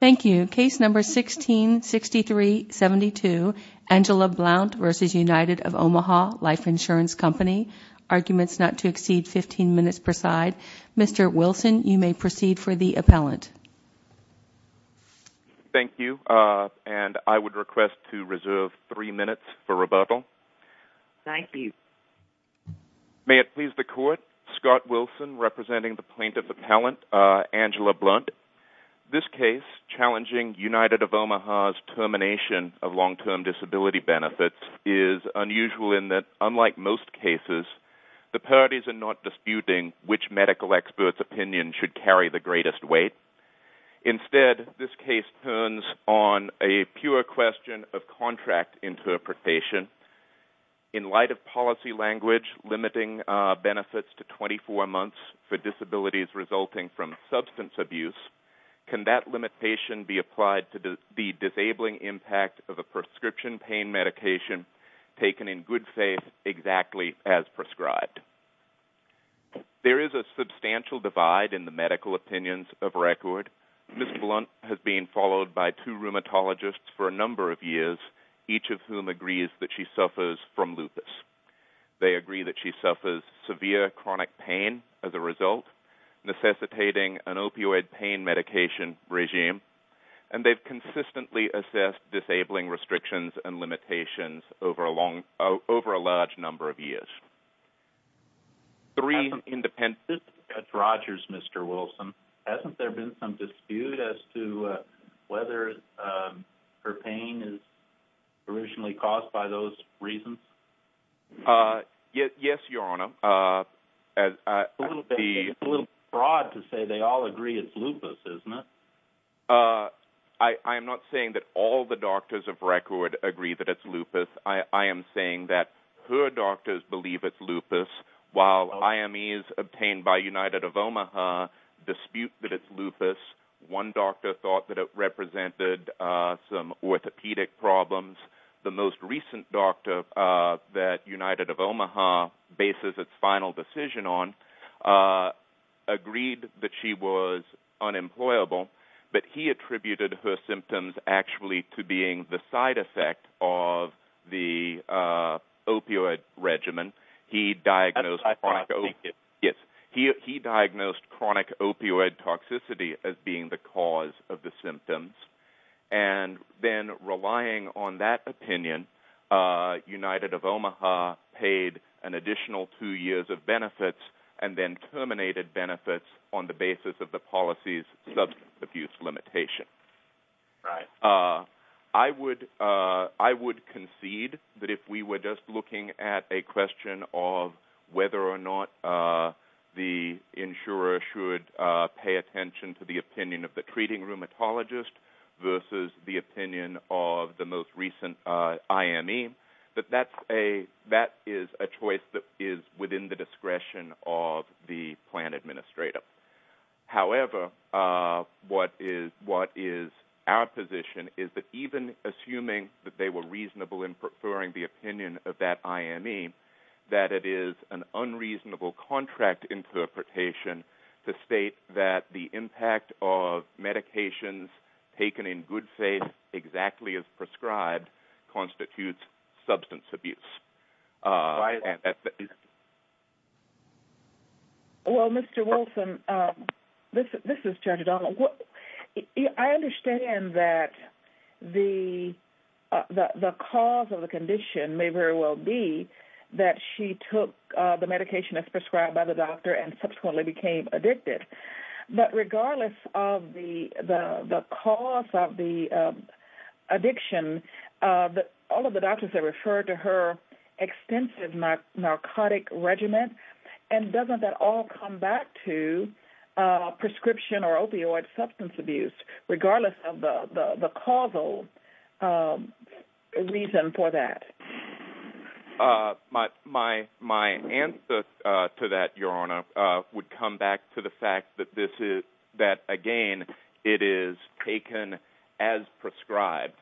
166372 Angela Blount v. United of Omaha Life Insurance Co Arguments not to exceed 15 minutes per side Mr. Wilson, you may proceed for the appellant Thank you and I would request to reserve 3 minutes for rebuttal Thank you May it please the court, Scott Wilson representing the plaintiff appellant Angela Blount This case, challenging United of Omaha's termination of long-term disability benefits is unusual in that, unlike most cases, the parties are not disputing which medical expert's opinion should carry the greatest weight Instead, this case turns on a pure question of contract interpretation In light of policy language limiting benefits to 24 months for disabilities resulting from substance abuse can that limitation be applied to the disabling impact of a prescription pain medication taken in good faith exactly as prescribed? There is a substantial divide in the medical opinions of record Ms. Blount has been followed by two rheumatologists for a number of years, each of whom agrees that she suffers from lupus They agree that she suffers severe chronic pain as a result, necessitating an opioid pain medication regime and they've consistently assessed disabling restrictions and limitations over a large number of years This is Judge Rogers, Mr. Wilson Hasn't there been some dispute as to whether her pain is originally caused by those reasons? Yes, your honor It's a little broad to say they all agree it's lupus, isn't it? I am not saying that all the doctors of record agree that it's lupus I am saying that her doctors believe it's lupus while IMEs obtained by United of Omaha dispute that it's lupus One doctor thought that it represented some orthopedic problems The most recent doctor that United of Omaha bases its final decision on agreed that she was unemployable but he attributed her symptoms actually to being the side effect of the opioid regimen He diagnosed chronic opioid toxicity as being the cause of the symptoms and then relying on that opinion, United of Omaha paid an additional two years of benefits and then terminated benefits on the basis of the policy's substance abuse limitation I would concede that if we were just looking at a question of whether or not the insurer should pay attention to the opinion of the treating rheumatologist versus the opinion of the most recent IME that is a choice that is within the discretion of the plan administrator However, what is our position is that even assuming that they were reasonable in preferring the opinion of that IME that it is an unreasonable contract interpretation to state that the impact of medications taken in good faith exactly as prescribed constitutes substance abuse Well, Mr. Wolfson, this is Judge Donald I understand that the cause of the condition may very well be that she took the medication as prescribed by the doctor and subsequently became addicted But regardless of the cause of the addiction all of the doctors have referred to her extensive narcotic regimen and doesn't that all come back to prescription or opioid substance abuse regardless of the causal reason for that? My answer to that, Your Honor, would come back to the fact that again, it is taken as prescribed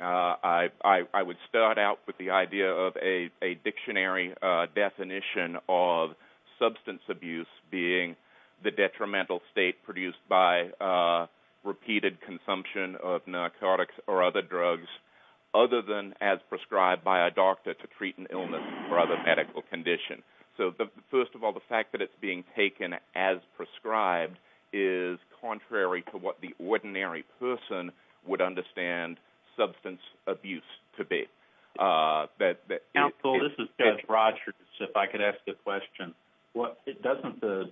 I would start out with the idea of a dictionary definition of substance abuse being the detrimental state produced by repeated consumption of narcotics or other drugs other than as prescribed by a doctor to treat an illness or other medical condition So first of all, the fact that it's being taken as prescribed is contrary to what the ordinary person would understand substance abuse to be Counsel, this is Judge Rogers, if I could ask a question Doesn't the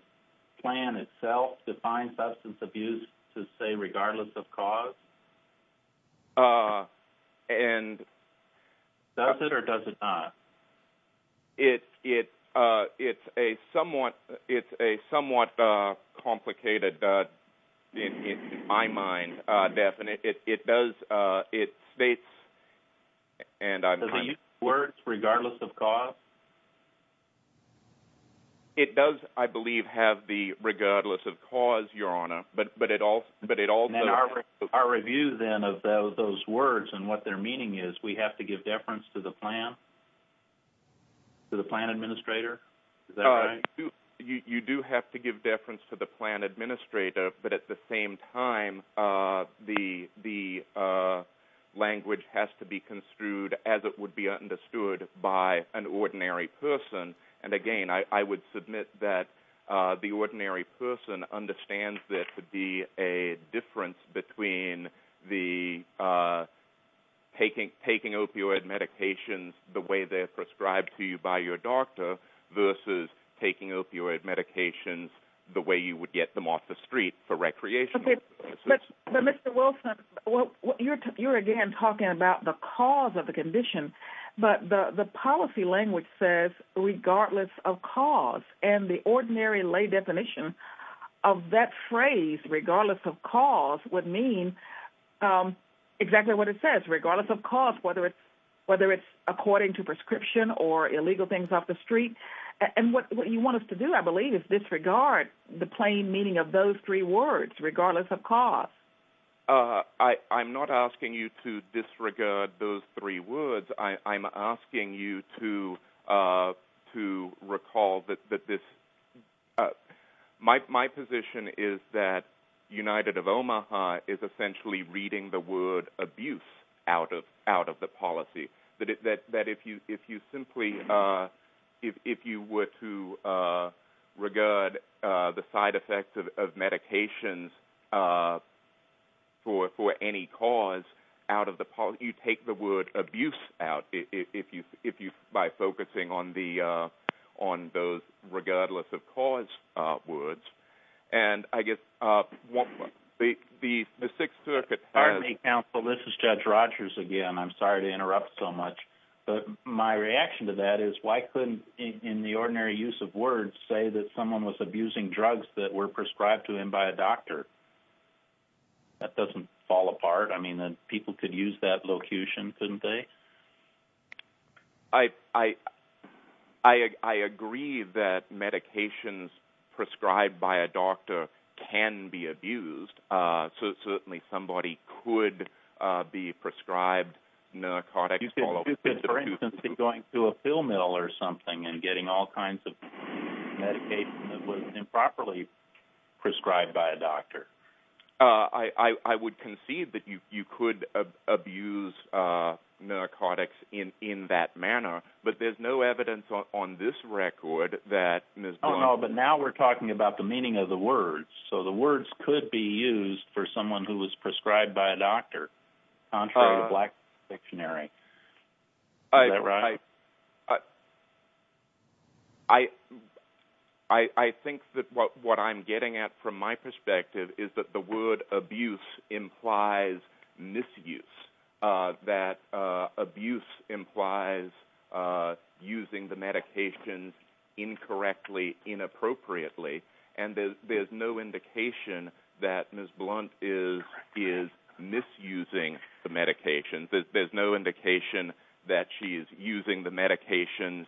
plan itself define substance abuse to say regardless of cause? Uh, and Does it or does it not? It's a somewhat complicated, in my mind, definition It does, it states Does it use words, regardless of cause? It does, I believe, have the regardless of cause, Your Honor Our review, then, of those words and what their meaning is we have to give deference to the plan? To the plan administrator? You do have to give deference to the plan administrator but at the same time, the language has to be construed as it would be understood by an ordinary person And again, I would submit that the ordinary person understands that there could be a difference between taking opioid medications the way they're prescribed to you by your doctor versus taking opioid medications the way you would get them off the street for recreational purposes But Mr. Wilson, you're again talking about the cause of the condition But the policy language says regardless of cause And the ordinary lay definition of that phrase, regardless of cause, would mean exactly what it says, regardless of cause, whether it's according to prescription or illegal things off the street And what you want us to do, I believe, is disregard the plain meaning of those three words, regardless of cause I'm not asking you to disregard those three words I'm asking you to recall that this My position is that United of Omaha is essentially reading the word abuse out of the policy That if you were to regard the side effects of medications for any cause you take the word abuse out by focusing on those regardless of cause words And I guess the Sixth Circuit has Good morning, counsel. This is Judge Rogers again. I'm sorry to interrupt so much But my reaction to that is, why couldn't, in the ordinary use of words, say that someone was abusing drugs that were prescribed to him by a doctor? That doesn't fall apart. I mean, people could use that locution, couldn't they? I agree that medications prescribed by a doctor can be abused So certainly somebody could be prescribed narcotics You could, for instance, be going to a pill mill or something and getting all kinds of medication that wasn't improperly prescribed by a doctor I would concede that you could abuse narcotics in that manner But there's no evidence on this record that Ms. Dunn I don't know, but now we're talking about the meaning of the words So the words could be used for someone who was prescribed by a doctor Contrary to black dictionary Is that right? I think that what I'm getting at from my perspective is that the word abuse implies misuse That abuse implies using the medications incorrectly, inappropriately And there's no indication that Ms. Blunt is misusing the medications There's no indication that she's using the medications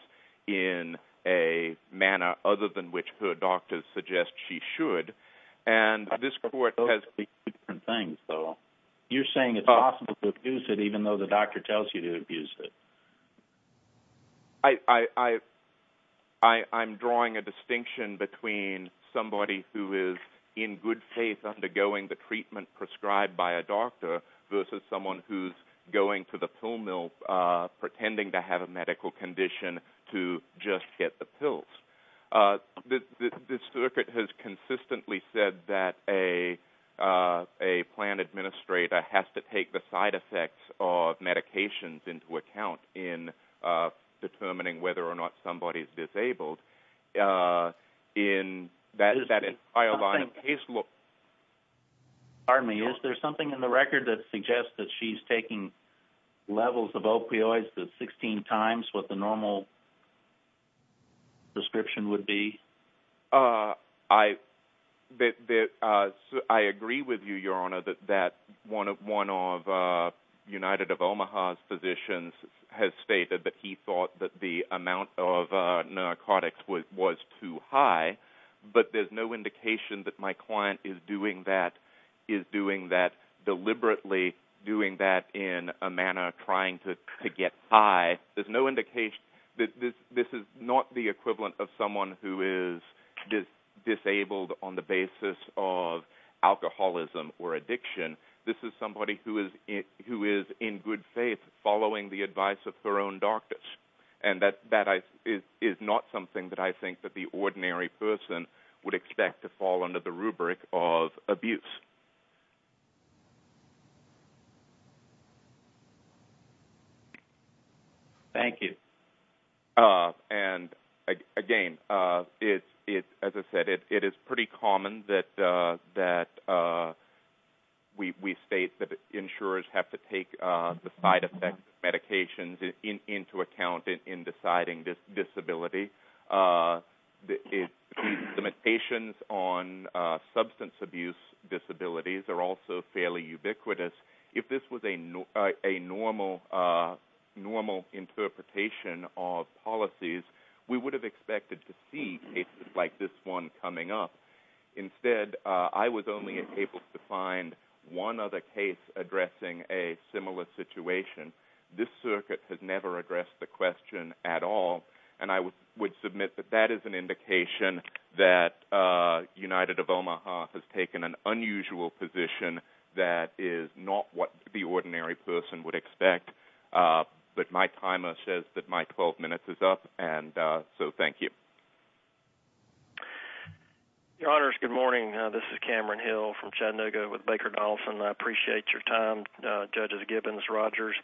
in a manner other than which her doctors suggest she should You're saying it's possible to abuse it even though the doctor tells you to abuse it I'm drawing a distinction between somebody who is in good faith undergoing the treatment prescribed by a doctor Versus someone who's going to the pill mill pretending to have a medical condition to just get the pills The circuit has consistently said that a plan administrator has to take the side effects of medications into account In determining whether or not somebody is disabled Is there something in the record that suggests that she's taking levels of opioids 16 times Is this what the normal prescription would be? I agree with you, your honor, that one of United of Omaha's physicians has stated that he thought that the amount of narcotics was too high But there's no indication that my client is doing that deliberately, doing that in a manner trying to get high There's no indication, this is not the equivalent of someone who is disabled on the basis of alcoholism or addiction This is somebody who is in good faith following the advice of her own doctors And that is not something that I think that the ordinary person would expect to fall under the rubric of abuse Thank you And again, as I said, it is pretty common that we state that insurers have to take the side effects of medications into account in deciding disability The limitations on substance abuse disabilities are also fairly ubiquitous If this was a normal interpretation of policies, we would have expected to see cases like this one coming up Instead, I was only able to find one other case addressing a similar situation This circuit has never addressed the question at all And I would submit that that is an indication that United of Omaha has taken an unusual position that is not what the ordinary person would expect But my timer says that my 12 minutes is up, so thank you Your honors, good morning, this is Cameron Hill from Chattanooga with Baker Donaldson I appreciate your time, Judges Gibbons, Rogers,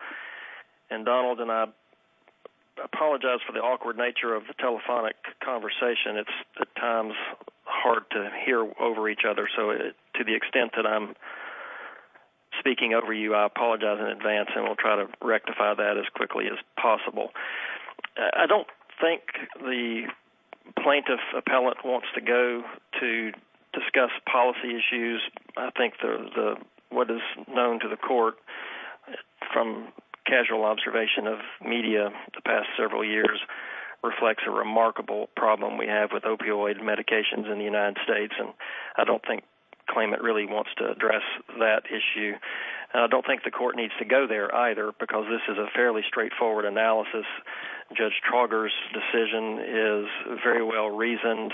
and Donald I apologize for the awkward nature of the telephonic conversation It's at times hard to hear over each other So to the extent that I'm speaking over you, I apologize in advance And we'll try to rectify that as quickly as possible I don't think the plaintiff appellant wants to go to discuss policy issues I think what is known to the court from casual observation of media the past several years Reflects a remarkable problem we have with opioid medications in the United States And I don't think the claimant really wants to address that issue And I don't think the court needs to go there either, because this is a fairly straightforward analysis Judge Trauger's decision is very well reasoned,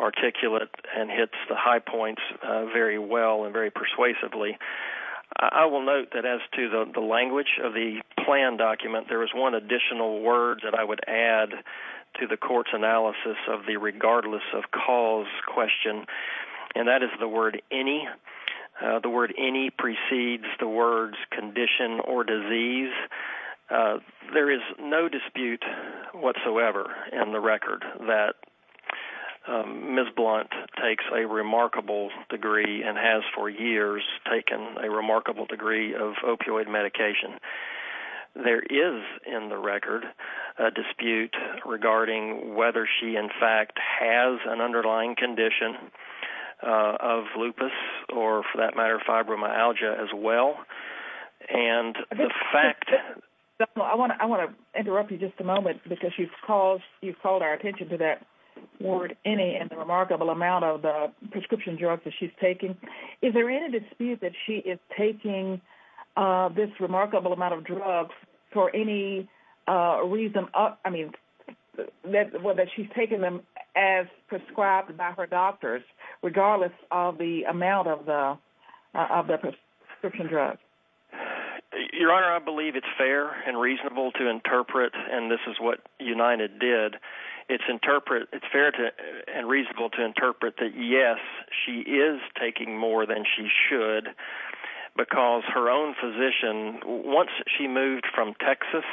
articulate, and hits the high points very well and very persuasively I will note that as to the language of the plan document, there is one additional word that I would add To the court's analysis of the regardless of cause question And that is the word any The word any precedes the words condition or disease There is no dispute whatsoever in the record that Ms. Blunt takes a remarkable degree And has for years taken a remarkable degree of opioid medication There is in the record a dispute regarding whether she in fact has an underlying condition of lupus Or for that matter fibromyalgia as well And the fact... I want to interrupt you just a moment because you've called our attention to that word any And the remarkable amount of the prescription drugs that she's taking Is there any dispute that she is taking this remarkable amount of drugs for any reason Whether she's taking them as prescribed by her doctors regardless of the amount of the prescription drugs Your Honor, I believe it's fair and reasonable to interpret And this is what United did It's fair and reasonable to interpret that yes, she is taking more than she should Because her own physician, once she moved from Texas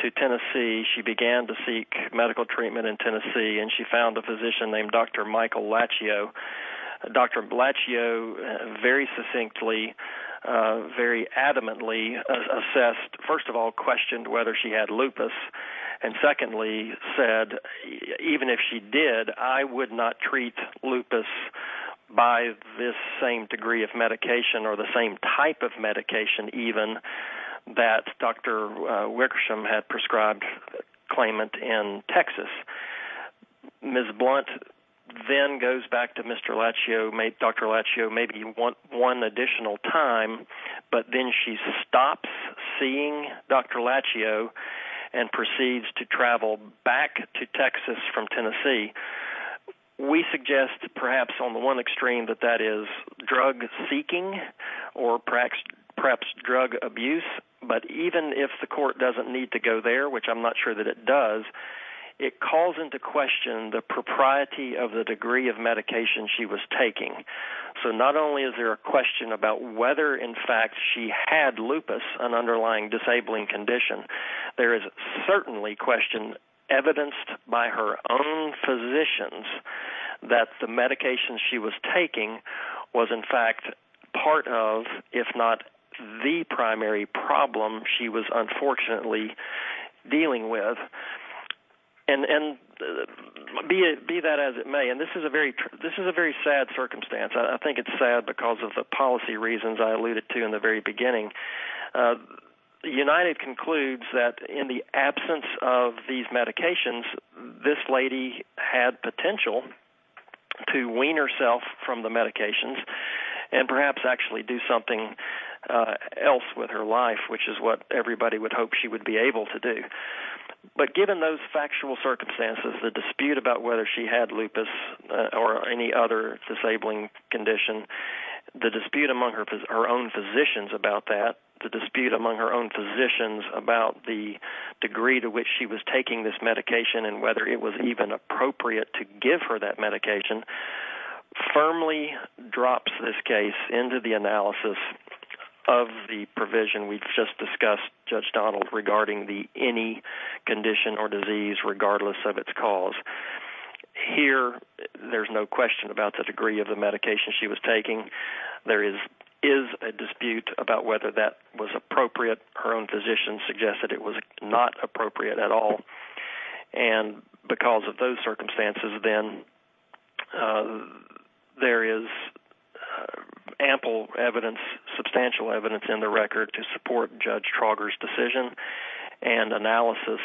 to Tennessee She began to seek medical treatment in Tennessee And she found a physician named Dr. Michael Lachio Dr. Lachio very succinctly, very adamantly assessed First of all questioned whether she had lupus And secondly said even if she did I would not treat lupus by this same degree of medication Or the same type of medication even That Dr. Wickersham had prescribed claimant in Texas Ms. Blunt then goes back to Dr. Lachio maybe one additional time But then she stops seeing Dr. Lachio And proceeds to travel back to Texas from Tennessee We suggest perhaps on the one extreme that that is drug seeking Or perhaps drug abuse But even if the court doesn't need to go there, which I'm not sure that it does It calls into question the propriety of the degree of medication she was taking So not only is there a question about whether in fact she had lupus An underlying disabling condition There is certainly question evidenced by her own physicians That the medication she was taking was in fact part of If not the primary problem she was unfortunately dealing with And be that as it may And this is a very sad circumstance I think it's sad because of the policy reasons I alluded to in the very beginning United concludes that in the absence of these medications This lady had potential to wean herself from the medications And perhaps actually do something else with her life Which is what everybody would hope she would be able to do But given those factual circumstances The dispute about whether she had lupus or any other disabling condition The dispute among her own physicians about that The dispute among her own physicians about the degree to which she was taking this medication And whether it was even appropriate to give her that medication Firmly drops this case into the analysis of the provision we just discussed Judge Donald regarding any condition or disease regardless of its cause Here there's no question about the degree of the medication she was taking There is a dispute about whether that was appropriate Her own physicians suggested it was not appropriate at all And because of those circumstances then There is ample evidence, substantial evidence in the record To support Judge Trauger's decision and analysis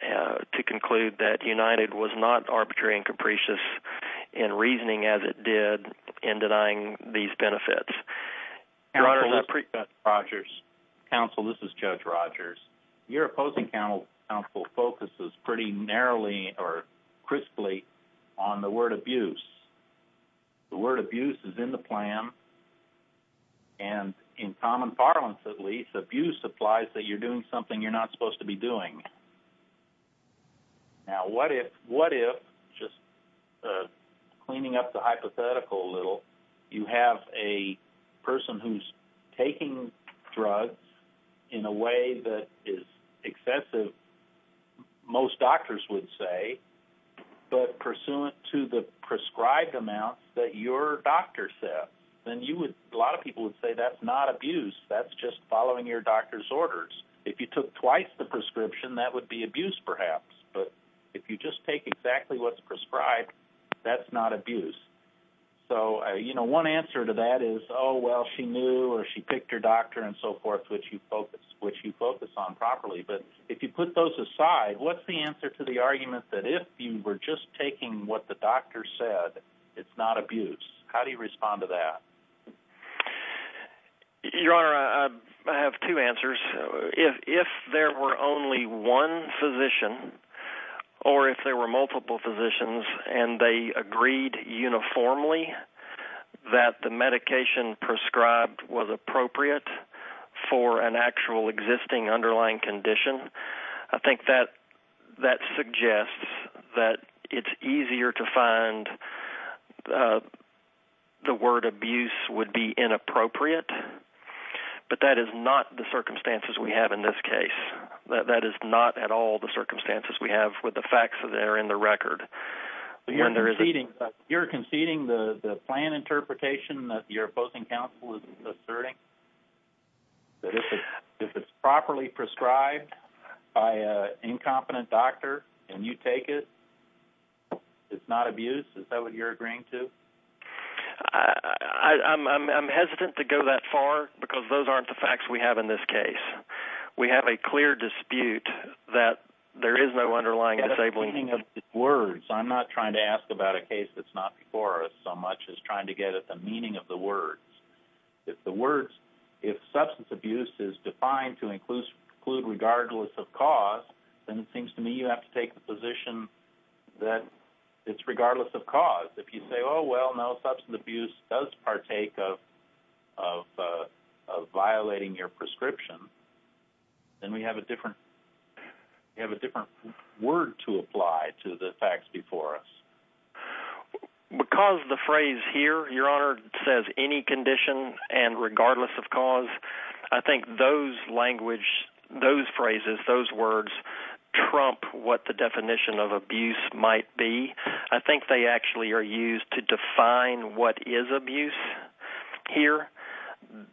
To conclude that United was not arbitrary and capricious In reasoning as it did in denying these benefits Counsel this is Judge Rogers Your opposing counsel focuses pretty narrowly or crisply on the word abuse The word abuse is in the plan And in common parlance at least Abuse implies that you're doing something you're not supposed to be doing Now what if, what if Just cleaning up the hypothetical a little You have a person who's taking drugs In a way that is excessive Most doctors would say But pursuant to the prescribed amounts that your doctor said Then you would, a lot of people would say that's not abuse That's just following your doctor's orders If you took twice the prescription that would be abuse perhaps But if you just take exactly what's prescribed That's not abuse So you know one answer to that is Oh well she knew or she picked her doctor and so forth Which you focus on properly But if you put those aside What's the answer to the argument that if you were just taking what the doctor said It's not abuse How do you respond to that? Your honor I have two answers If there were only one physician Or if there were multiple physicians And they agreed uniformly That the medication prescribed was appropriate For an actual existing underlying condition I think that suggests That it's easier to find The word abuse would be inappropriate But that is not the circumstances we have in this case That is not at all the circumstances we have With the facts that are in the record You're conceding the plan interpretation That your opposing counsel is asserting That if it's properly prescribed By an incompetent doctor And you take it It's not abuse Is that what you're agreeing to? I'm hesitant to go that far Because those aren't the facts we have in this case We have a clear dispute That there is no underlying disabling I'm not trying to ask about a case that's not before us So much as trying to get at the meaning of the words If the words If substance abuse is defined to include Regardless of cause Then it seems to me you have to take the position That it's regardless of cause If you say oh well no substance abuse Does partake of Violating your prescription Then we have a different We have a different word to apply To the facts before us Because the phrase here Your Honor Says any condition And regardless of cause I think those language Those phrases Those words Trump what the definition of abuse might be I think they actually are used to define What is abuse Here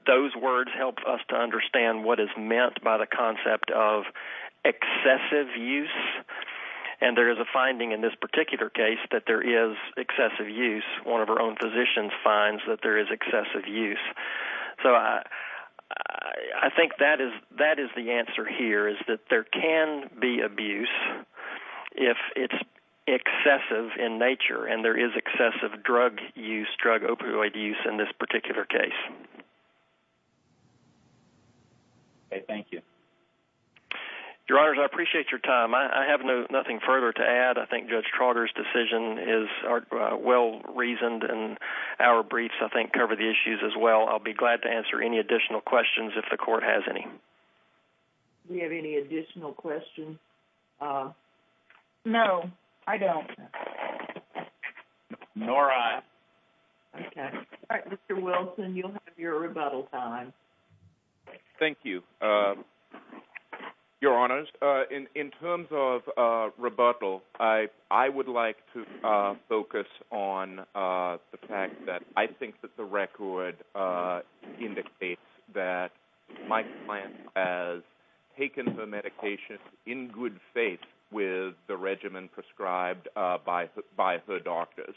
Those words help us to understand What is meant by the concept of Excessive use And there is a finding in this particular case That there is excessive use One of our own physicians finds That there is excessive use So I I think that is That is the answer here Is that there can be abuse If it's Excessive in nature And there is excessive drug use Drug opioid use In this particular case Thank you Your Honor I appreciate your time I have nothing further to add I think Judge Trotter's decision is Well reasoned And our briefs I think cover the issues as well I'll be glad to answer any additional questions If the court has any Do we have any additional questions? No I don't Nor I Okay Alright Mr. Wilson You'll have your rebuttal time Thank you Your Honors In terms of rebuttal I would like to Focus on The fact that I think that the record Indicates that My client has Taken her medication In good faith With the regimen prescribed By her doctors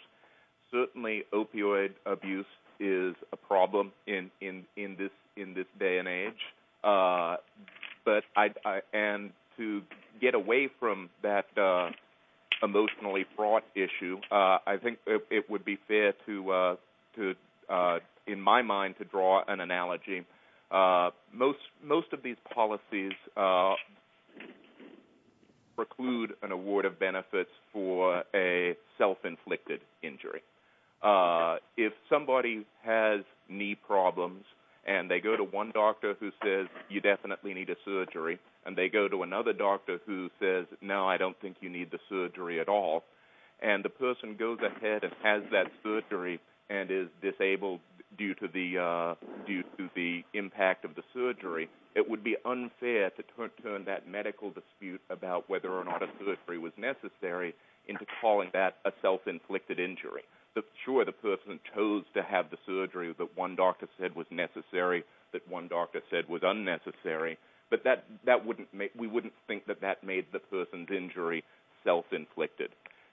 Certainly opioid abuse Is a problem In this day and age But And to Get away from that Emotionally fraught issue I think it would be fair To In my mind to draw an analogy Most of these Policies Preclude An award of benefits for A self inflicted injury If somebody Has knee problems And they go to one doctor Who says you definitely need a surgery And they go to another doctor Who says no I don't think You need the surgery at all And the person goes ahead And has that surgery And is disabled due to the Impact of the surgery It would be unfair To turn that medical dispute About whether or not a surgery Was necessary Into calling that a self inflicted injury Sure the person chose to have the surgery That one doctor said was necessary But we wouldn't think that That made the person's injury Self inflicted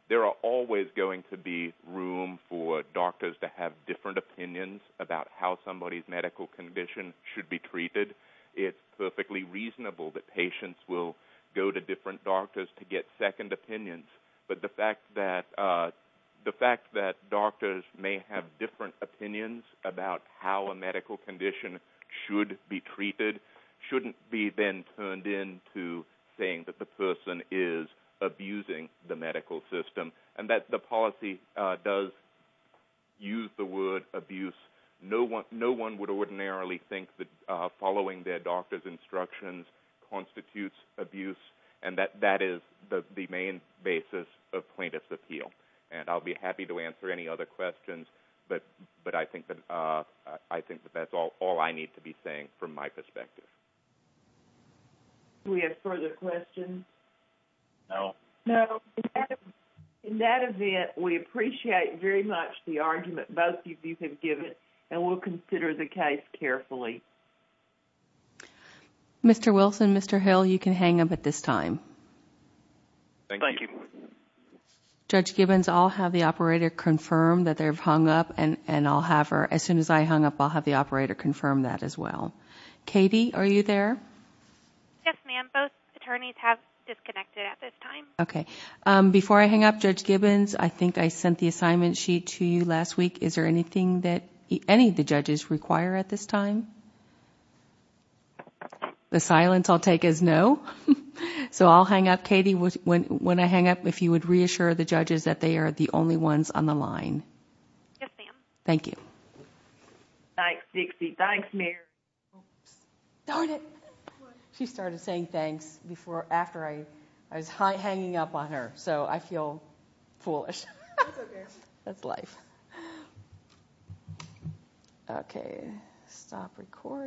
There are always Going to be room for doctors To have different opinions About how somebody's medical condition Should be treated It's perfectly reasonable that patients Will go to different doctors To get second opinions But the fact that Doctors may have different opinions About how a medical condition Should be treated Shouldn't be then turned into Saying that the person is Abusing the medical system And that the policy Does use the word Abuse No one would ordinarily think that Following their doctor's instructions Constitutes abuse And that that is the main Basis of plaintiff's appeal And I'll be happy to answer any other questions But I think that That's all I need to be saying From my perspective Do we have further questions? No In that event We appreciate very much The argument both of you have given And we'll consider the case carefully Mr. Wilson, Mr. Hill You can hang up at this time Thank you Judge Gibbons, I'll have the operator Confirm that they've hung up And as soon as I hang up I'll have the operator confirm that as well Katie, are you there? Yes ma'am, both attorneys Have disconnected at this time Before I hang up, Judge Gibbons I think I sent the assignment sheet To you last week, is there anything that Any of the judges require at this time? The silence I'll take is no So I'll hang up Katie, when I hang up If you would reassure the judges That they are the only ones on the line Yes ma'am Thank you Thanks Dixie, thanks Mary Darn it She started saying thanks After I was hanging up on her So I feel foolish That's life Okay Stop recording